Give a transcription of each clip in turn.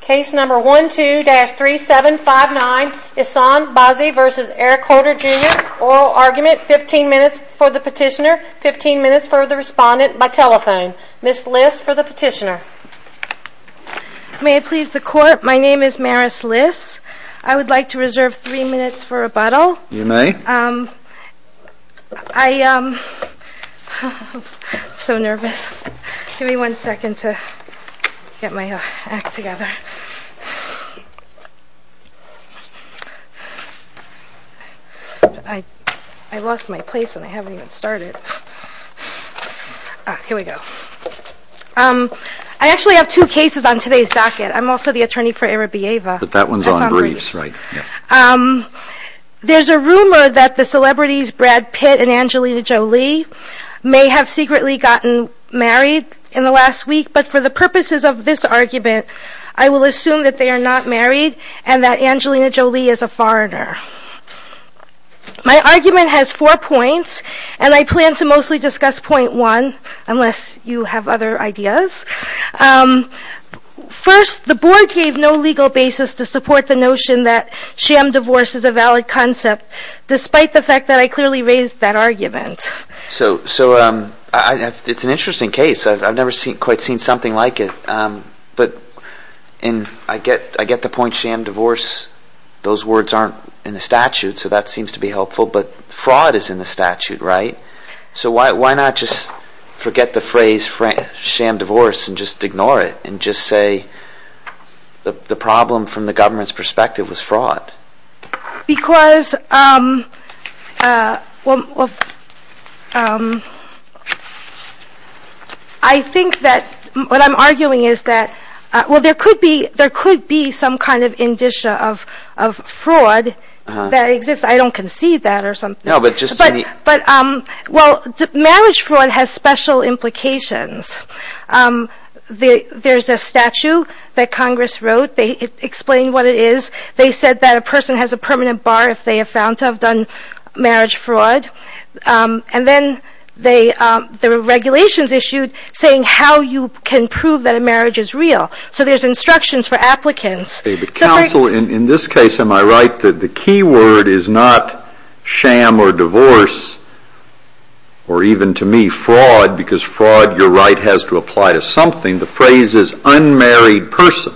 Case number 12-3759 Issan Bazzi v. Eric Holder Jr. Oral argument, 15 minutes for the petitioner, 15 minutes for the respondent by telephone. Ms. Liss for the petitioner. May it please the court, my name is Maris Liss. I would like to reserve 3 minutes for rebuttal. You may. I'm so nervous. Give me one second to get my act together. I lost my place and I haven't even started. Here we go. I actually have two cases on today's docket. I'm also the attorney for Arabieva. But that one's on briefs, right? Yes. There's a rumor that the celebrities Brad Pitt and Angelina Jolie may have secretly gotten married in the last week. But for the purposes of this argument, I will assume that they are not married and that Angelina Jolie is a foreigner. My argument has four points and I plan to mostly discuss point one, unless you have other ideas. First, the board gave no legal basis to support the notion that sham divorce is a valid concept, despite the fact that I clearly raised that argument. It's an interesting case. I've never quite seen something like it. But I get the point, sham divorce, those words aren't in the statute, so that seems to be helpful. But fraud is in the statute, right? So why not just forget the phrase sham divorce and just ignore it and just say the problem from the government's perspective was fraud? Because I think that what I'm arguing is that there could be some kind of indicia of fraud that exists. I don't conceive that or something. But, well, marriage fraud has special implications. There's a statute that Congress wrote. They explain what it is. They said that a person has a permanent bar if they are found to have done marriage fraud. And then there were regulations issued saying how you can prove that a marriage is real. So there's instructions for applicants. David, counsel, in this case, am I right that the key word is not sham or divorce or even, to me, fraud, because fraud, you're right, has to apply to something. The phrase is unmarried person.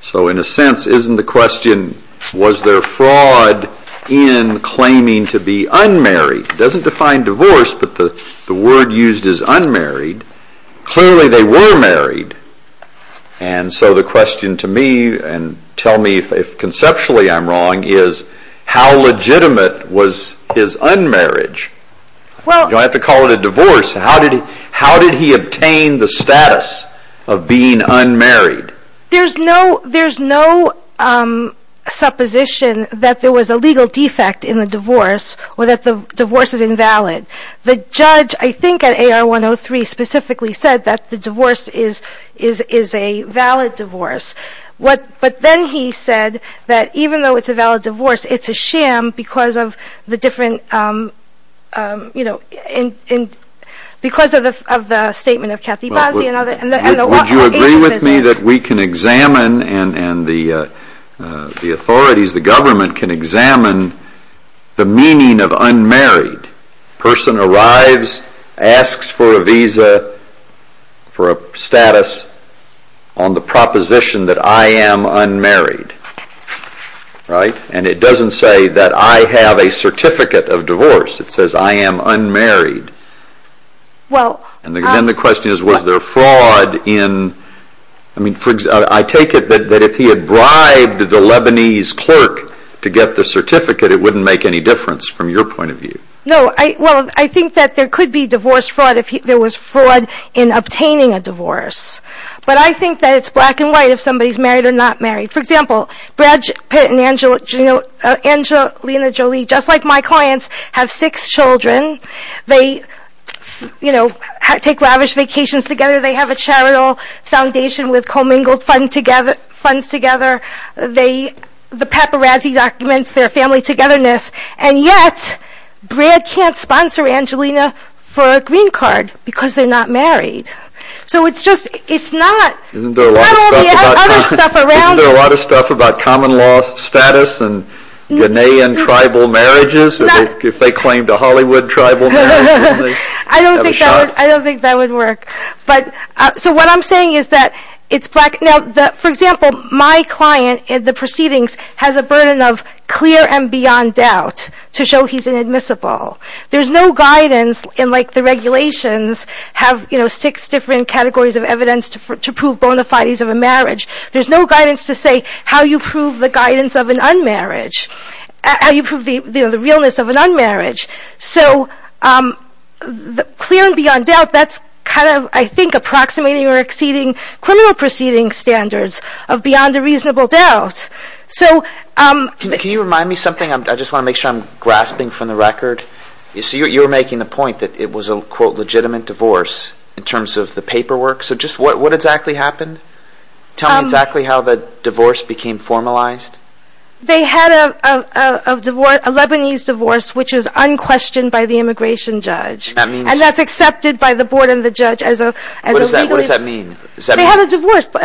So in a sense, isn't the question, was there fraud in claiming to be unmarried? It doesn't define divorce, but the word used is unmarried. Clearly they were married. And so the question to me, and tell me if conceptually I'm wrong, is how legitimate was his unmarriage? You don't have to call it a divorce. How did he obtain the status of being unmarried? There's no supposition that there was a legal defect in the divorce or that the divorce is invalid. The judge, I think, at AR 103 specifically said that the divorce is a valid divorce. But then he said that even though it's a valid divorce, it's a sham because of the different, you know, because of the statement of Kathy Bosley and other agents. Would you agree with me that we can examine and the authorities, the government can examine the meaning of unmarried? A person arrives, asks for a visa, for a status on the proposition that I am unmarried, right? And it doesn't say that I have a certificate of divorce. It says I am unmarried. And then the question is, was there fraud in, I mean, for example, I take it that if he had bribed the Lebanese clerk to get the certificate, it wouldn't make any difference from your point of view. No, well, I think that there could be divorce fraud if there was fraud in obtaining a divorce. But I think that it's black and white if somebody's married or not married. For example, Brad Pitt and Angelina Jolie, just like my clients, have six children. They, you know, take lavish vacations together. They have a charitable foundation with commingled funds together. The paparazzi documents their family togetherness. And yet, Brad can't sponsor Angelina for a green card because they're not married. So it's just, it's not. Isn't there a lot of stuff about common law status and Ghanaian tribal marriages? If they claimed a Hollywood tribal marriage. I don't think that would work. But, so what I'm saying is that it's black. Now, for example, my client in the proceedings has a burden of clear and beyond doubt to show he's inadmissible. There's no guidance in, like, the regulations have, you know, six different categories of evidence to prove bona fides of a marriage. There's no guidance to say how you prove the guidance of an unmarriage, how you prove the realness of an unmarriage. So clear and beyond doubt, that's kind of, I think, approximating or exceeding criminal proceeding standards of beyond a reasonable doubt. So... Can you remind me something? I just want to make sure I'm grasping from the record. So you were making the point that it was a, quote, legitimate divorce in terms of the paperwork. So just what exactly happened? Tell me exactly how the divorce became formalized. They had a divorce, a Lebanese divorce, which is unquestioned by the immigration judge. And that's accepted by the board and the judge as a legally... What does that mean? They had a divorce. But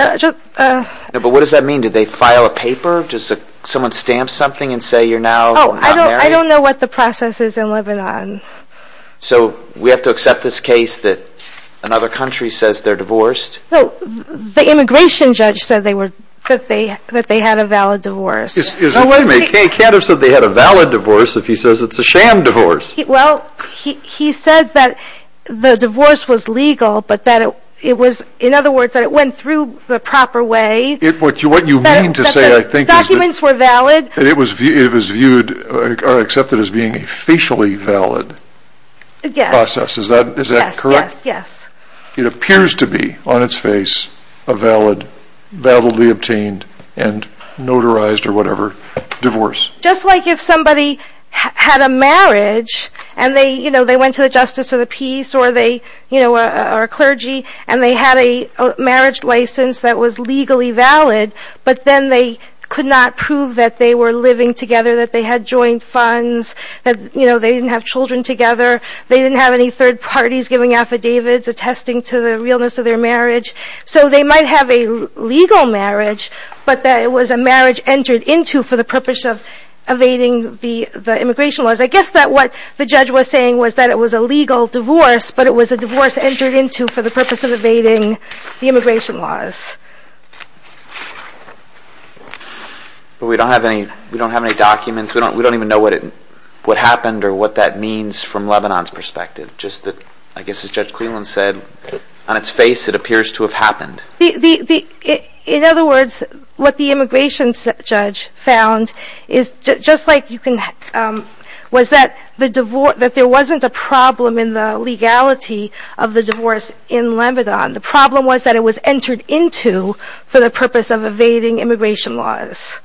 what does that mean? Did they file a paper? Does someone stamp something and say you're now not married? Oh, I don't know what the process is in Lebanon. So we have to accept this case that another country says they're divorced? No, the immigration judge said that they had a valid divorce. No, wait a minute. He can't have said they had a valid divorce if he says it's a sham divorce. Well, he said that the divorce was legal, but that it was, in other words, that it went through the proper way. What you mean to say, I think, is that... The documents were valid. It was viewed or accepted as being a facially valid process. Yes. Is that correct? Yes. It appears to be, on its face, a valid, validly obtained, and notarized, or whatever, divorce. Just like if somebody had a marriage and they went to the justice or the peace or a clergy and they had a marriage license that was legally valid, but then they could not prove that they were living together, that they had joint funds, that they didn't have children together, they didn't have any third parties giving affidavits attesting to the realness of their marriage. So they might have a legal marriage, but that it was a marriage entered into for the purpose of evading the immigration laws. I guess that what the judge was saying was that it was a legal divorce, but it was a divorce entered into for the purpose of evading the immigration laws. But we don't have any documents. We don't even know what happened or what that means from Lebanon's perspective. I guess, as Judge Cleland said, on its face it appears to have happened. In other words, what the immigration judge found was that there wasn't a problem in the legality of the divorce in Lebanon. The problem was that it was entered into for the purpose of evading immigration laws.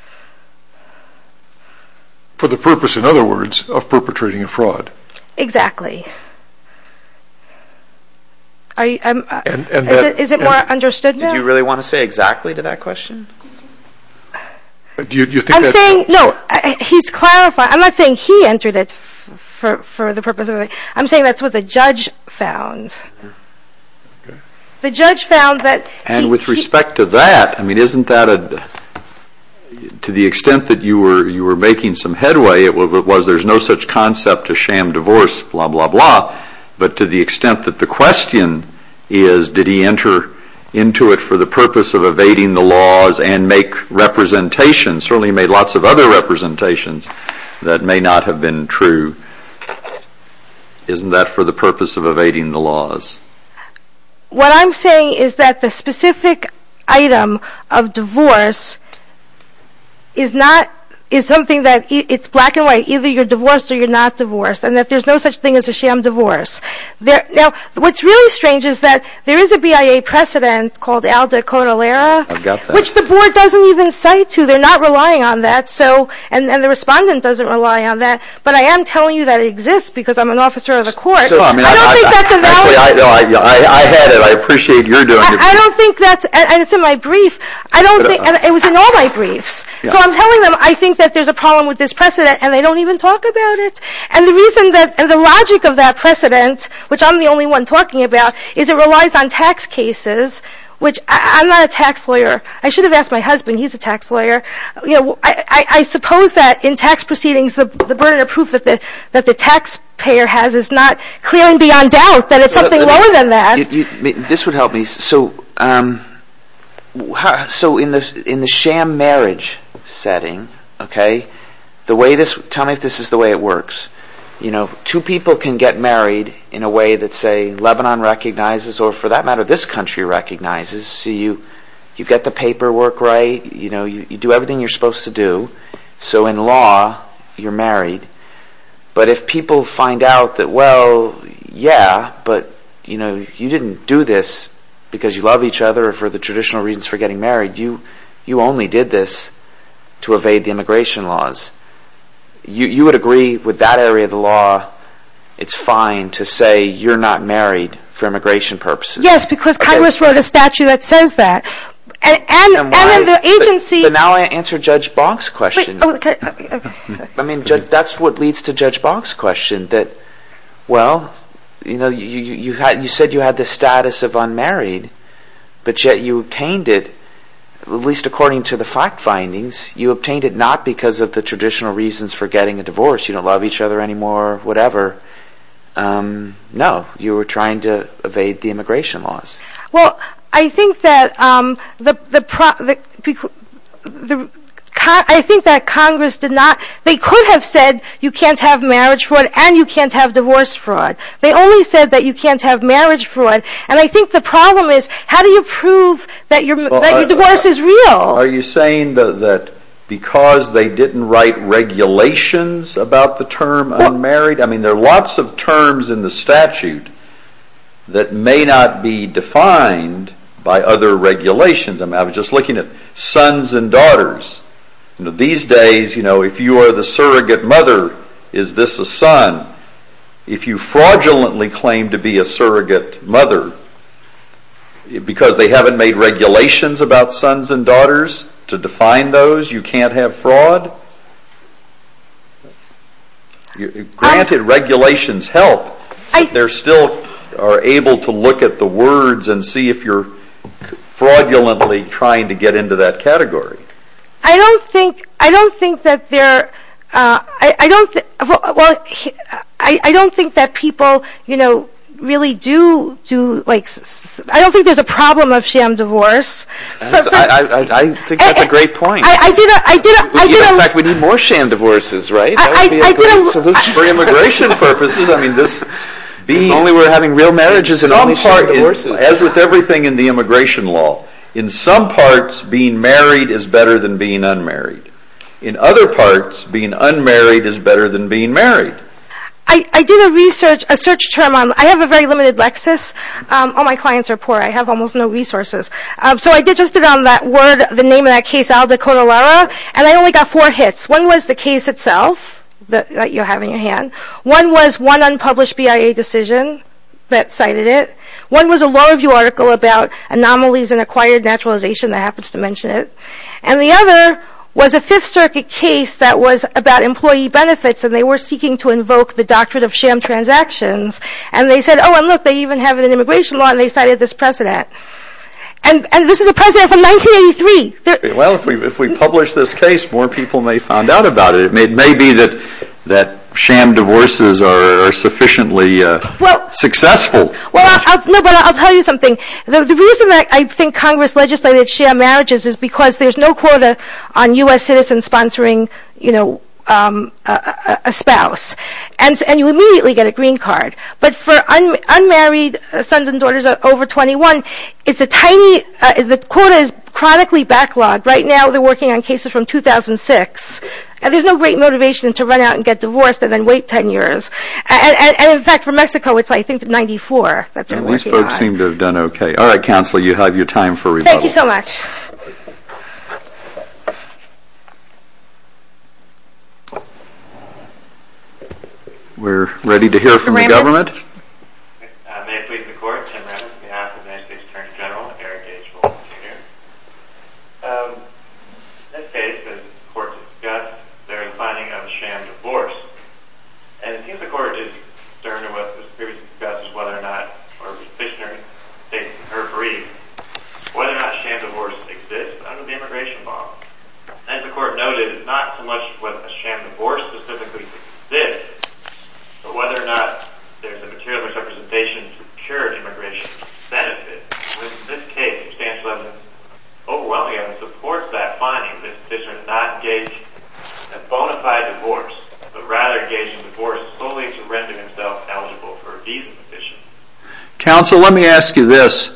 For the purpose, in other words, of perpetrating a fraud. Exactly. Is it more understood now? Did you really want to say exactly to that question? I'm saying, no, he's clarifying. I'm not saying he entered it for the purpose of evading. I'm saying that's what the judge found. And with respect to that, isn't that, to the extent that you were making some headway, it was there's no such concept as sham divorce, blah, blah, blah. But to the extent that the question is, did he enter into it for the purpose of evading the laws and make representations, certainly he made lots of other representations, that may not have been true. Isn't that for the purpose of evading the laws? What I'm saying is that the specific item of divorce is not, is something that, it's black and white, either you're divorced or you're not divorced. And that there's no such thing as a sham divorce. Now, what's really strange is that there is a BIA precedent called al decodal era. I've got that. Which the board doesn't even cite to. They're not relying on that. And the respondent doesn't rely on that. But I am telling you that it exists because I'm an officer of the court. I don't think that's a valid. I had it. I appreciate your doing it. I don't think that's, and it's in my brief. I don't think, and it was in all my briefs. So I'm telling them I think that there's a problem with this precedent, and they don't even talk about it. And the reason that, and the logic of that precedent, which I'm the only one talking about, is it relies on tax cases, which I'm not a tax lawyer. I should have asked my husband. He's a tax lawyer. I suppose that in tax proceedings the burden of proof that the taxpayer has is not clearly beyond doubt that it's something lower than that. This would help me. So in the sham marriage setting, okay, the way this, tell me if this is the way it works. Two people can get married in a way that, say, Lebanon recognizes, or for that matter this country recognizes. So you get the paperwork right. You do everything you're supposed to do. So in law you're married. But if people find out that, well, yeah, but you didn't do this because you love each other or for the traditional reasons for getting married. You only did this to evade the immigration laws. You would agree with that area of the law. It's fine to say you're not married for immigration purposes. Yes, because Congress wrote a statute that says that. But now I answer Judge Bonk's question. I mean, that's what leads to Judge Bonk's question that, well, you know, you said you had the status of unmarried, but yet you obtained it, at least according to the fact findings, you obtained it not because of the traditional reasons for getting a divorce. You don't love each other anymore, whatever. No, you were trying to evade the immigration laws. Well, I think that Congress did not, they could have said you can't have marriage fraud and you can't have divorce fraud. They only said that you can't have marriage fraud. And I think the problem is how do you prove that your divorce is real? Are you saying that because they didn't write regulations about the term unmarried? I mean, there are lots of terms in the statute that may not be defined by other regulations. I mean, I was just looking at sons and daughters. These days, you know, if you are the surrogate mother, is this a son? If you fraudulently claim to be a surrogate mother because they haven't made regulations about sons and daughters to define those, you can't have fraud? Granted, regulations help, but they still are able to look at the words and see if you are fraudulently trying to get into that category. I don't think that people really do, I don't think there's a problem of sham divorce. I think that's a great point. In fact, we need more sham divorces, right? That would be a great solution for immigration purposes. If only we were having real marriages and only sham divorces. As with everything in the immigration law, in some parts, being married is better than being unmarried. In other parts, being unmarried is better than being married. I did a research, a search term. I have a very limited Lexis. All my clients are poor. I have almost no resources. So I digested on that word, the name of that case, Aldo Conolara, and I only got four hits. One was the case itself that you have in your hand. One was one unpublished BIA decision that cited it. One was a law review article about anomalies and acquired naturalization that happens to mention it. And the other was a Fifth Circuit case that was about employee benefits and they were seeking to invoke the doctrine of sham transactions. And they said, oh, and look, they even have it in immigration law and they cited this precedent. And this is a precedent from 1983. Well, if we publish this case, more people may find out about it. It may be that sham divorces are sufficiently successful. Well, I'll tell you something. The reason that I think Congress legislated sham marriages is because there's no quota on U.S. citizens sponsoring, you know, a spouse. And you immediately get a green card. But for unmarried sons and daughters over 21, it's a tiny – the quota is chronically backlogged. Right now they're working on cases from 2006. And there's no great motivation to run out and get divorced and then wait 10 years. And, in fact, for Mexico, it's, I think, 94 that they're working on. These folks seem to have done okay. All right, Counselor, you have your time for rebuttal. Thank you so much. We're ready to hear from the government. May it please the Court. Tim Remins on behalf of the United States Attorney General, Eric H. Wilson, Jr. In this case, the Court discussed the reclining of the sham divorce. And it seems the Court is concerned in what was previously discussed as whether or not – or the petitioner agrees – whether or not sham divorce exists under the Immigration Law. And the Court noted it's not so much whether a sham divorce specifically exists but whether or not there's a material representation to procure immigration benefit. In this case, substantial evidence overwhelmingly supports that finding that the petitioner has not gauged a bona fide divorce but rather gauged a divorce solely to render himself eligible for a visa petition. Counsel, let me ask you this.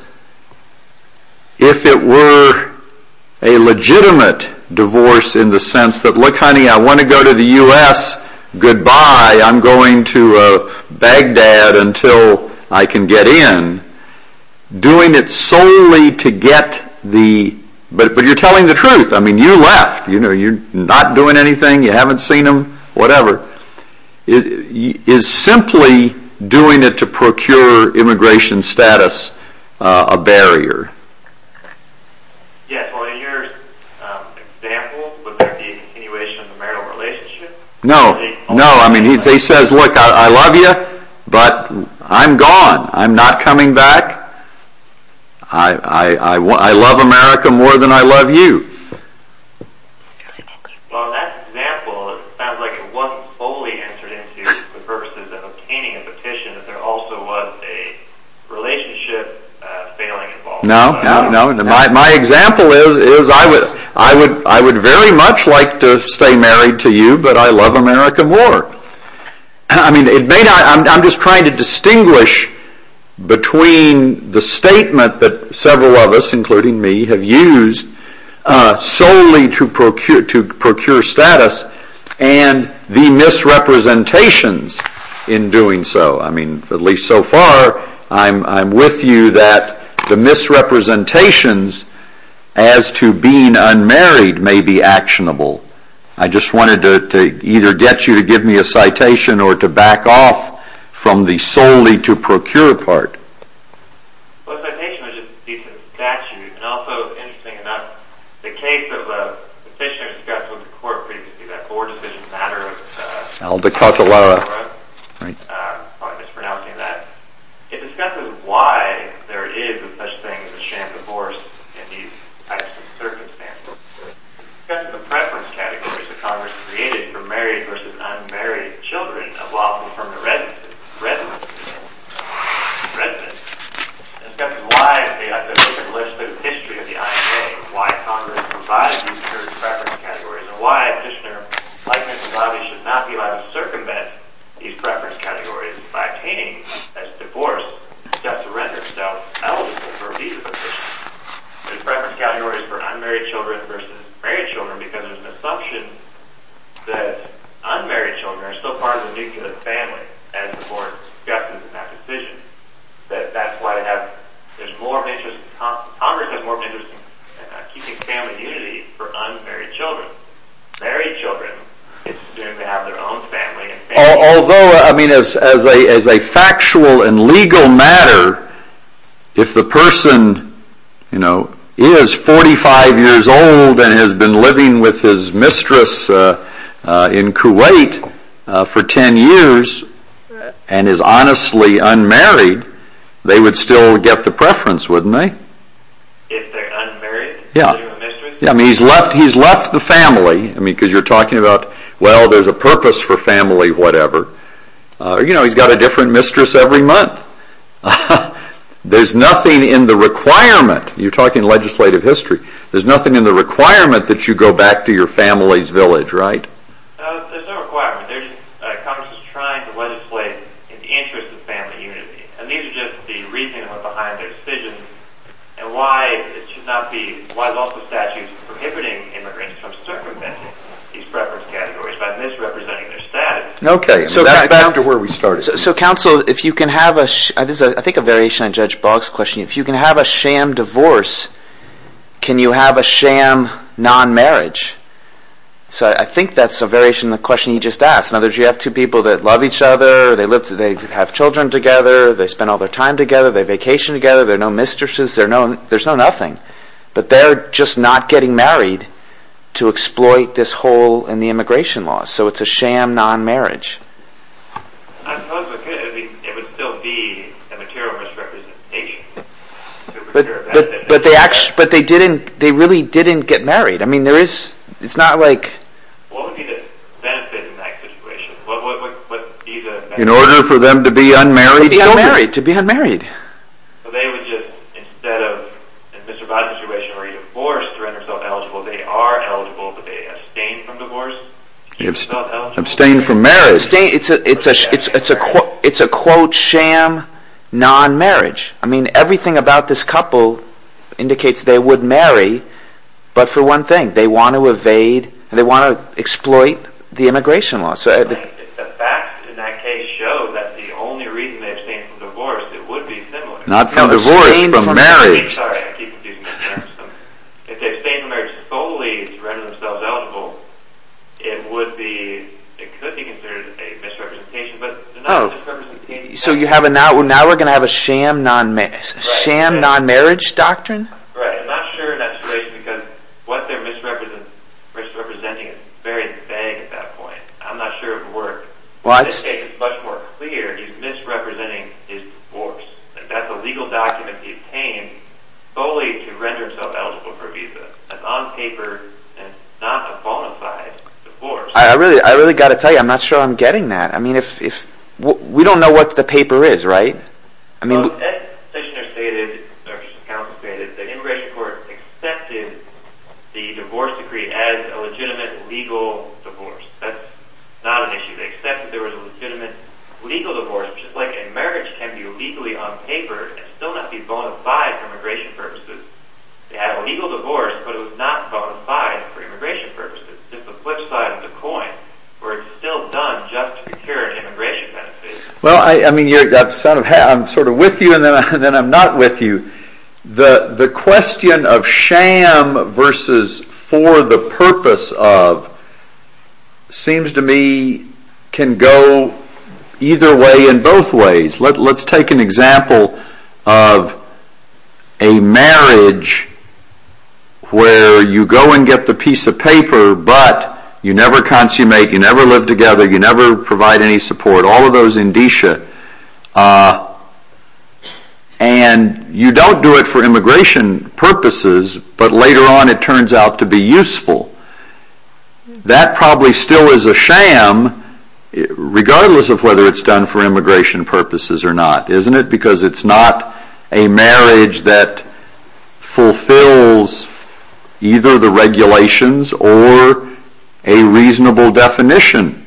If it were a legitimate divorce in the sense that, look, honey, I want to go to the U.S., goodbye, I'm going to Baghdad until I can get in, doing it solely to get the – but you're telling the truth. I mean, you left, you're not doing anything, you haven't seen them, whatever. Is simply doing it to procure immigration status a barrier? Yes, well, in your example, would there be a continuation of the marital relationship? No, no, I mean, he says, look, I love you, but I'm gone, I'm not coming back. I love America more than I love you. Well, in that example, it sounds like it wasn't solely entered into for the purposes of obtaining a petition, that there also was a relationship failing involved. No, no, my example is, I would very much like to stay married to you, but I love America more. I mean, I'm just trying to distinguish between the statement that several of us, including me, have used solely to procure status and the misrepresentations in doing so. I mean, at least so far, I'm with you that the misrepresentations as to being unmarried may be actionable. I just wanted to either get you to give me a citation or to back off from the solely to procure part. Well, a citation is just a decent statute. And also, interesting enough, the case of a petitioner discussed with the court previously, that board decision matter of Aldecatalara, I'm probably mispronouncing that, it discusses why there is such a thing as a sham divorce in these types of circumstances. It discusses the preference categories that Congress created for married versus unmarried children evolved from the residence. Residence. Residence. It discusses why there is an open list of the history of the IAA, why Congress provides these certain preference categories, and why a petitioner, like Mr. Lobby, should not be allowed to circumvent these preference categories by obtaining, as divorce, just to render itself eligible for a visa petition. There's preference categories for unmarried children versus married children because there's an assumption that unmarried children are still part of the nuclear family, as the board discusses in that petition. That's why they have, there's more of an interest, Congress has more of an interest in keeping family unity for unmarried children. Married children seem to have their own family. Although, I mean, as a factual and legal matter, if the person is 45 years old and has been living with his mistress in Kuwait for 10 years and is honestly unmarried, they would still get the preference, wouldn't they? If they're unmarried? Yeah. He's left the family, because you're talking about, well, there's a purpose for family, whatever. He's got a different mistress every month. There's nothing in the requirement, you're talking legislative history, there's nothing in the requirement that you go back to your family's village, right? There's no requirement. Congress is trying to legislate in the interest of family unity. And these are just the reasoning behind their decision and why it should not be, why is also statute prohibiting immigrants from circumventing these preference categories by misrepresenting their status. Okay, back to where we started. So, counsel, if you can have a... I think this is a variation on Judge Boggs' question. If you can have a sham divorce, can you have a sham non-marriage? So I think that's a variation on the question he just asked. In other words, you have two people that love each other, they have children together, they spend all their time together, they vacation together, there are no mistresses, there's no nothing. But they're just not getting married to exploit this hole in the immigration law. So it's a sham non-marriage. I suppose it could. It would still be a material misrepresentation. But they really didn't get married. I mean, there is... It's not like... What would be the benefit in that situation? In order for them to be unmarried? To be unmarried, to be unmarried. So they would just, instead of... In Mr. Boggs' situation, are you forced to render yourself eligible? Well, they are eligible, but they abstain from divorce. They abstain from marriage. It's a, quote, sham non-marriage. I mean, everything about this couple indicates they would marry, but for one thing, they want to evade, they want to exploit the immigration law. The fact in that case shows that the only reason they abstain from divorce, it would be similar. Not from divorce, but from marriage. Sorry, I keep confusing myself. If they abstain from marriage solely to render themselves eligible, it would be, it could be considered a misrepresentation, but... Oh, so now we're going to have a sham non-marriage doctrine? Right, I'm not sure in that situation, because what they're misrepresenting is very vague at that point. I'm not sure it would work. In this case, it's much more clear. He's misrepresenting his divorce. That's a legal document he obtained solely to render himself eligible for a visa. That's on paper, and not a bona fide divorce. I really got to tell you, I'm not sure I'm getting that. We don't know what the paper is, right? Well, as the petitioner stated, or as the counsel stated, the immigration court accepted the divorce decree as a legitimate, legal divorce. That's not an issue. They accepted there was a legitimate, legal divorce, just like a marriage can be legally on paper and still not be bona fide for immigration purposes. They had a legal divorce, but it was not bona fide for immigration purposes. It's a flip side of the coin, where it's still done just to secure an immigration benefit. Well, I mean, I'm sort of with you, and then I'm not with you. The question of sham versus for the purpose of seems to me can go either way in both ways. Let's take an example of a marriage where you go and get the piece of paper, but you never consummate, you never live together, you never provide any support, all of those indicia, and you don't do it for immigration purposes, but later on it turns out to be useful. That probably still is a sham, regardless of whether it's done for immigration purposes or not. Isn't it? Because it's not a marriage that fulfills either the regulations or a reasonable definition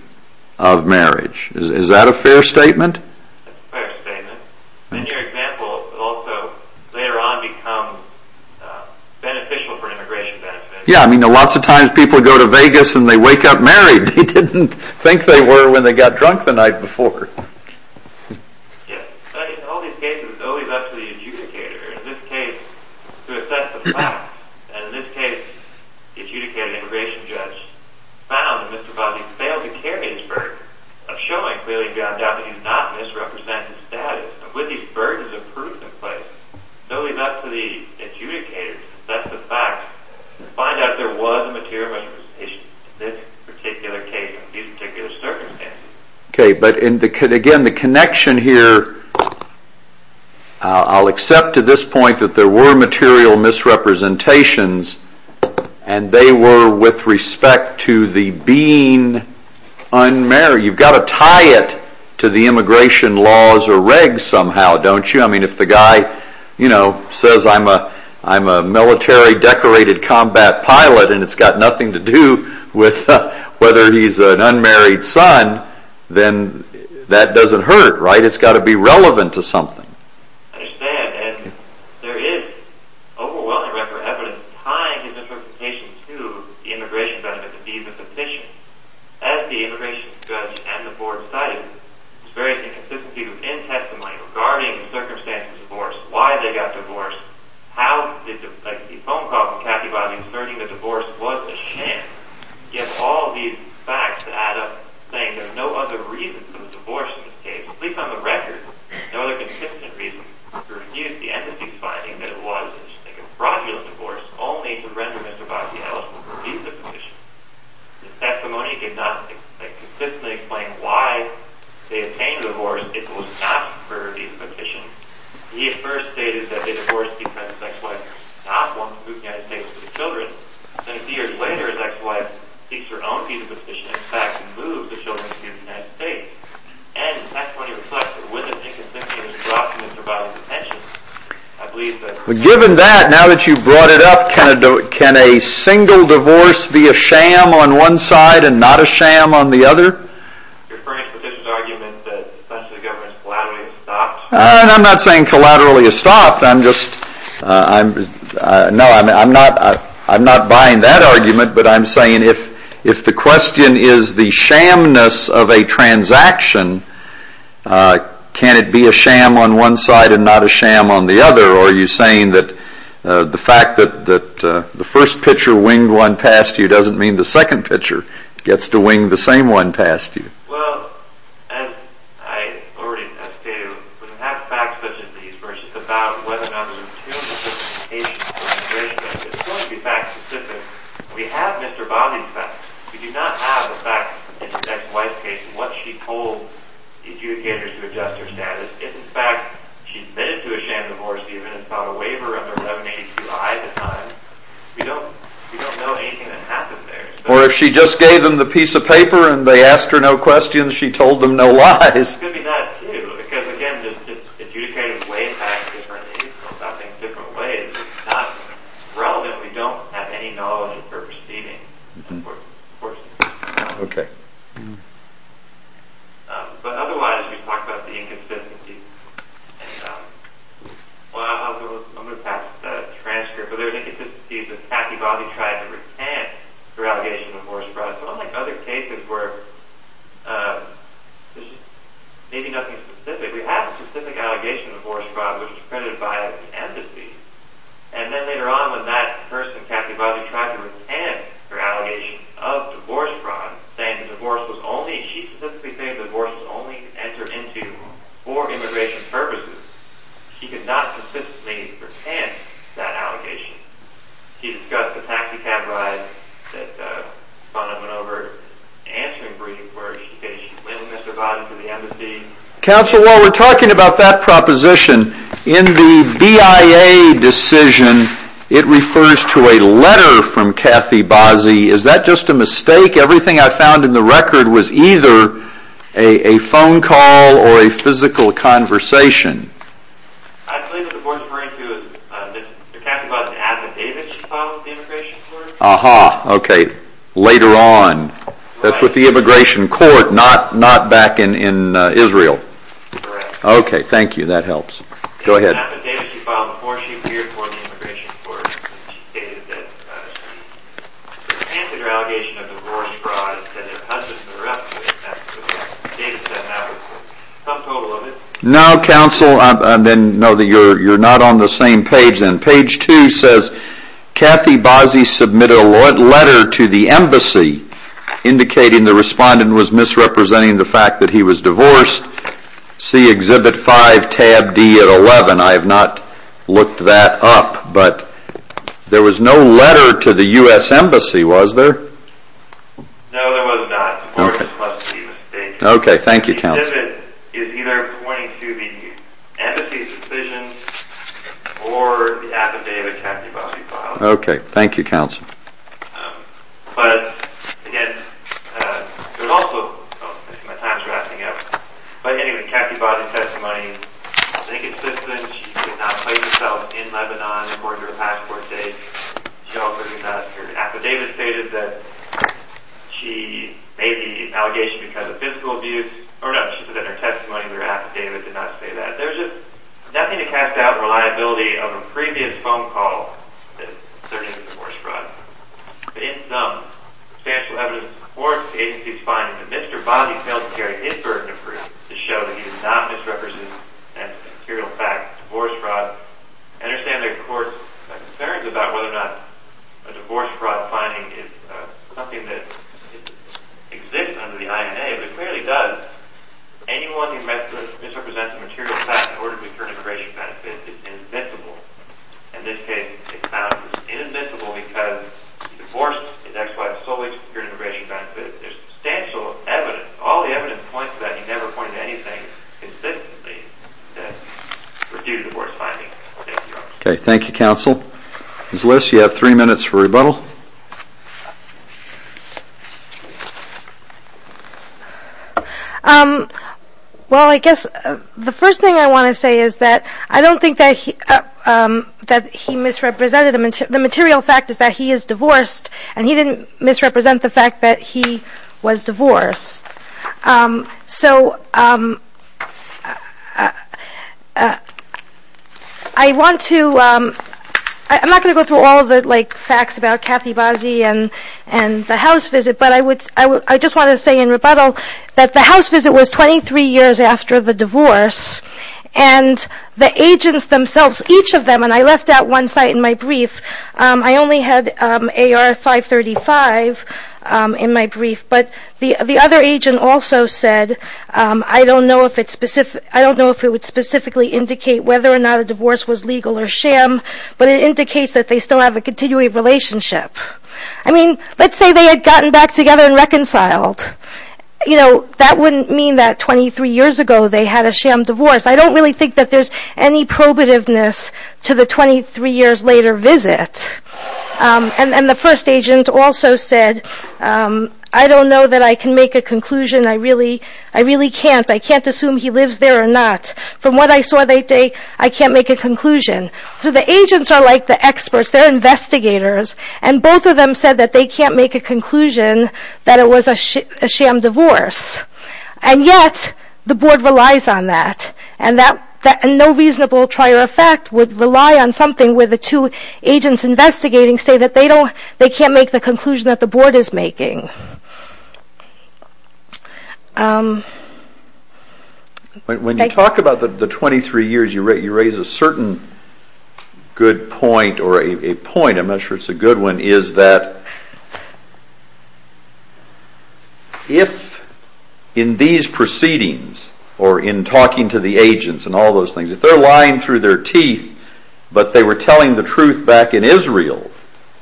of marriage. Is that a fair statement? That's a fair statement. And your example also later on becomes beneficial for immigration benefits. Yeah, I mean, lots of times people go to Vegas and they wake up married. They didn't think they were when they got drunk the night before. Yes. In all these cases, it's only left to the adjudicator in this case to assess the facts. And in this case, the adjudicator and the immigration judge found that Mr. Bosley failed to carry his burden of showing clearly beyond doubt that he's not misrepresenting the status of Whitney's burden of proof in place. It's only left to the adjudicator to assess the facts and find out if there was a material misrepresentation in this particular case or these particular circumstances. Okay, but again, the connection here, I'll accept to this point that there were material misrepresentations and they were with respect to the being unmarried. You've got to tie it to the immigration laws or regs somehow, don't you? I mean, if the guy says, you know, I'm a military decorated combat pilot and it's got nothing to do with whether he's an unmarried son, then that doesn't hurt, right? It's got to be relevant to something. I understand, and there is overwhelming record of evidence tying his misrepresentation to the immigration judgment to be misrepresentation. As the immigration judge and the board cited, there's very inconsistency in testimony regarding the circumstances of divorce, why they got divorced, how did the phone call from Katty Bobby concerning the divorce was a sham, yet all these facts add up, saying there's no other reason for the divorce in this case, at least on the record, no other consistent reason to renew the entity's finding that it was a fraudulent divorce only to render Mr. Bobby eligible for a visa petition. The testimony did not consistently explain why they obtained the divorce. It was not for a visa petition. He at first stated that they divorced because his ex-wife did not want to move to the United States with the children. Then a few years later, his ex-wife seeks her own visa petition and expects to move the children to the United States. And the testimony reflects that with an inconsistency in his view, I believe that... Given that, now that you've brought it up, can a single divorce be a sham on one side and not a sham on the other? You're referring to the petition's argument that the special government is collaterally estopped? I'm not saying collaterally estopped, I'm just... No, I'm not buying that argument, but I'm saying if the question is the shamness of a transaction, can it be a sham on one side and not a sham on the other? Or are you saying that the fact that the first pitcher winged one past you doesn't mean the second pitcher gets to wing the same one past you? Well, as I already stated, when we have facts such as these about whether or not there were two different cases of immigration, it's going to be fact specific. We have Mr. Baumann's facts. We do not have the facts in the next wife's case and what she told the adjudicators to adjust her status. If in fact she's admitted to a sham divorce even and filed a waiver under 172I at the time, we don't know anything that happened there. Or if she just gave them the piece of paper and they asked her no questions, she told them no lies. It could be that too, because again, adjudicators weigh facts differently in different ways. It's not relevant if we don't have any knowledge of her proceedings. But otherwise, we've talked about the inconsistencies. I'm going to pass the transcript, but there are inconsistencies that have to do with the allegation of divorce fraud. So unlike other cases where there's maybe nothing specific, we have a specific allegation of divorce fraud which was credited by the embassy. And then later on, when that person, Kathy Bozzi, tried to retain her allegation of divorce fraud, saying the divorce was only, she specifically said the divorce was only to enter into for immigration purposes, she could not consistently retain that allegation. She discussed the taxi cab ride that spun up and over. Answering briefs where she said she went with Mr. Bozzi to the embassy. Counsel, while we're talking about that proposition, in the BIA decision, it refers to a letter from Kathy Bozzi. Is that just a mistake? Everything I found in the record was either a phone call or a physical conversation. I believe what the board is referring to was Mr. Kathy Bozzi's affidavit she filed with the Immigration Court. Aha, okay. Later on. That's with the Immigration Court, not back in Israel. Correct. Okay, thank you. That helps. Go ahead. The affidavit she filed before she appeared for the Immigration Court stated that she resented her allegation of divorce fraud and said their husbands were up to it. The affidavit said that was the sum total of it. No Counsel, I didn't know that you're not on the same page then. Page 2 says Kathy Bozzi submitted a letter to the embassy indicating the respondent was misrepresenting the fact that he was divorced. See Exhibit 5, tab D at 11. I have not looked that up, but there was no letter to the U.S. Embassy, was there? No, there was not. Okay, thank you Counsel. The affidavit is either pointing to the embassy's decision or the affidavit Kathy Bozzi filed. Okay, thank you Counsel. But, again, there's also, my time's wrapping up, but anyway, Kathy Bozzi's testimony is inconsistent. She did not place herself in Lebanon according to her passport date. She also did not her affidavit stated that she made the assumption that her testimony in her affidavit did not say that. There's just nothing to cast out reliability of a previous phone call that asserted divorce fraud. But in sum, substantial evidence supports the agency's finding that Mr. Bozzi failed to carry his burden of proof to show that he did not misrepresent that material fact of divorce fraud. I understand there are courts' concerns about whether or not a divorce fraud finding is something that exists under the INA, but it clearly does. Anyone who misrepresents a material fact in order to secure an integration benefit is invincible. In this case, it's found to be invincible because he divorced his ex-wife solely to secure an integration benefit. There's substantial evidence, all the evidence points to that. He never pointed to anything consistently that was due to divorce finding. Okay, thank you Counsel. Ms. Liss, you have three minutes for rebuttal. Well, I guess the first thing I want to say is that I don't think that he misrepresented the material fact is that he is divorced and he didn't misrepresent the fact that he was divorced. So, I want to I'm not going to go through all of the facts about Kathy Bozzi and the house visit, but I would I just want to say in rebuttal that the house visit was 23 years after the divorce and the agents themselves each of them, and I left out one site in my brief, I only had AR 535 in my brief, but the other agent also said I don't know if it's specific I don't know if it would specifically indicate whether or not a divorce was legal or sham, but it indicates that they still have a continuity of relationship. I mean, let's say they had gotten back together and reconciled. You know, that wouldn't mean that 23 years ago they had a sham divorce. I don't really think that there's any probativeness to the 23 years later visit. And the first agent also said, I don't know that I can make a conclusion, I really can't, I can't assume he lives there or not. From what I saw that day, I can't make a conclusion. So the agents are like the experts they're investigators, and both of them said that they can't make a conclusion that it was a sham divorce. And yet the board relies on that. And no reasonable trier effect would rely on something where the two agents investigating say that they can't make the conclusion that the board is making. When you talk about the 23 years, you raise a certain good point, or a point, I'm not sure it's a good one, is that if in these proceedings or in talking to the agents and all those things, if they're lying through their teeth but they were telling the truth back in Israel,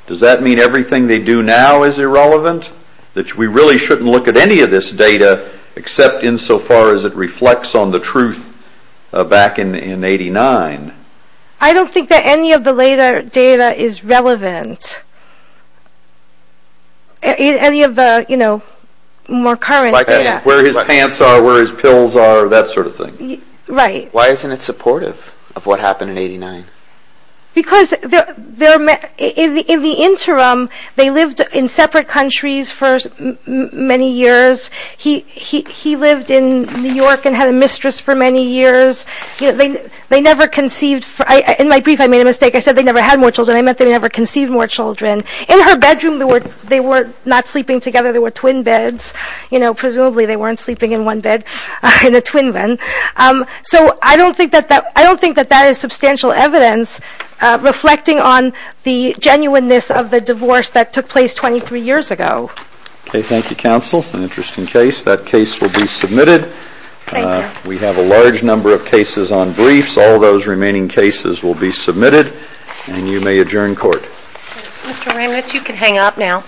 does that mean everything they do now is irrelevant? That we really shouldn't look at any of this data except insofar as it reflects on the truth back in 89. I don't think that any of the later data is relevant. Any of the you know, more current data. Where his pants are, where his pills are, that sort of thing. Right. Why isn't it supportive of what happened in 89? Because in the interim, they lived in separate countries for many years. He lived in New York and had a mistress for many years. They never conceived, in my brief I made a mistake. I said they never had more children. I meant they never conceived more children. In her bedroom, they were not sleeping together. They were twin beds. Presumably they weren't sleeping in one bed. In a twin bed. I don't think that that is substantial evidence reflecting on the genuineness of the divorce that took place 23 years ago. Okay, thank you, counsel. An interesting case. That case will be submitted. Thank you. We have a large number of cases on briefs. All those remaining cases will be submitted. And you may adjourn court. Mr. Ramnitz, you can hang up now.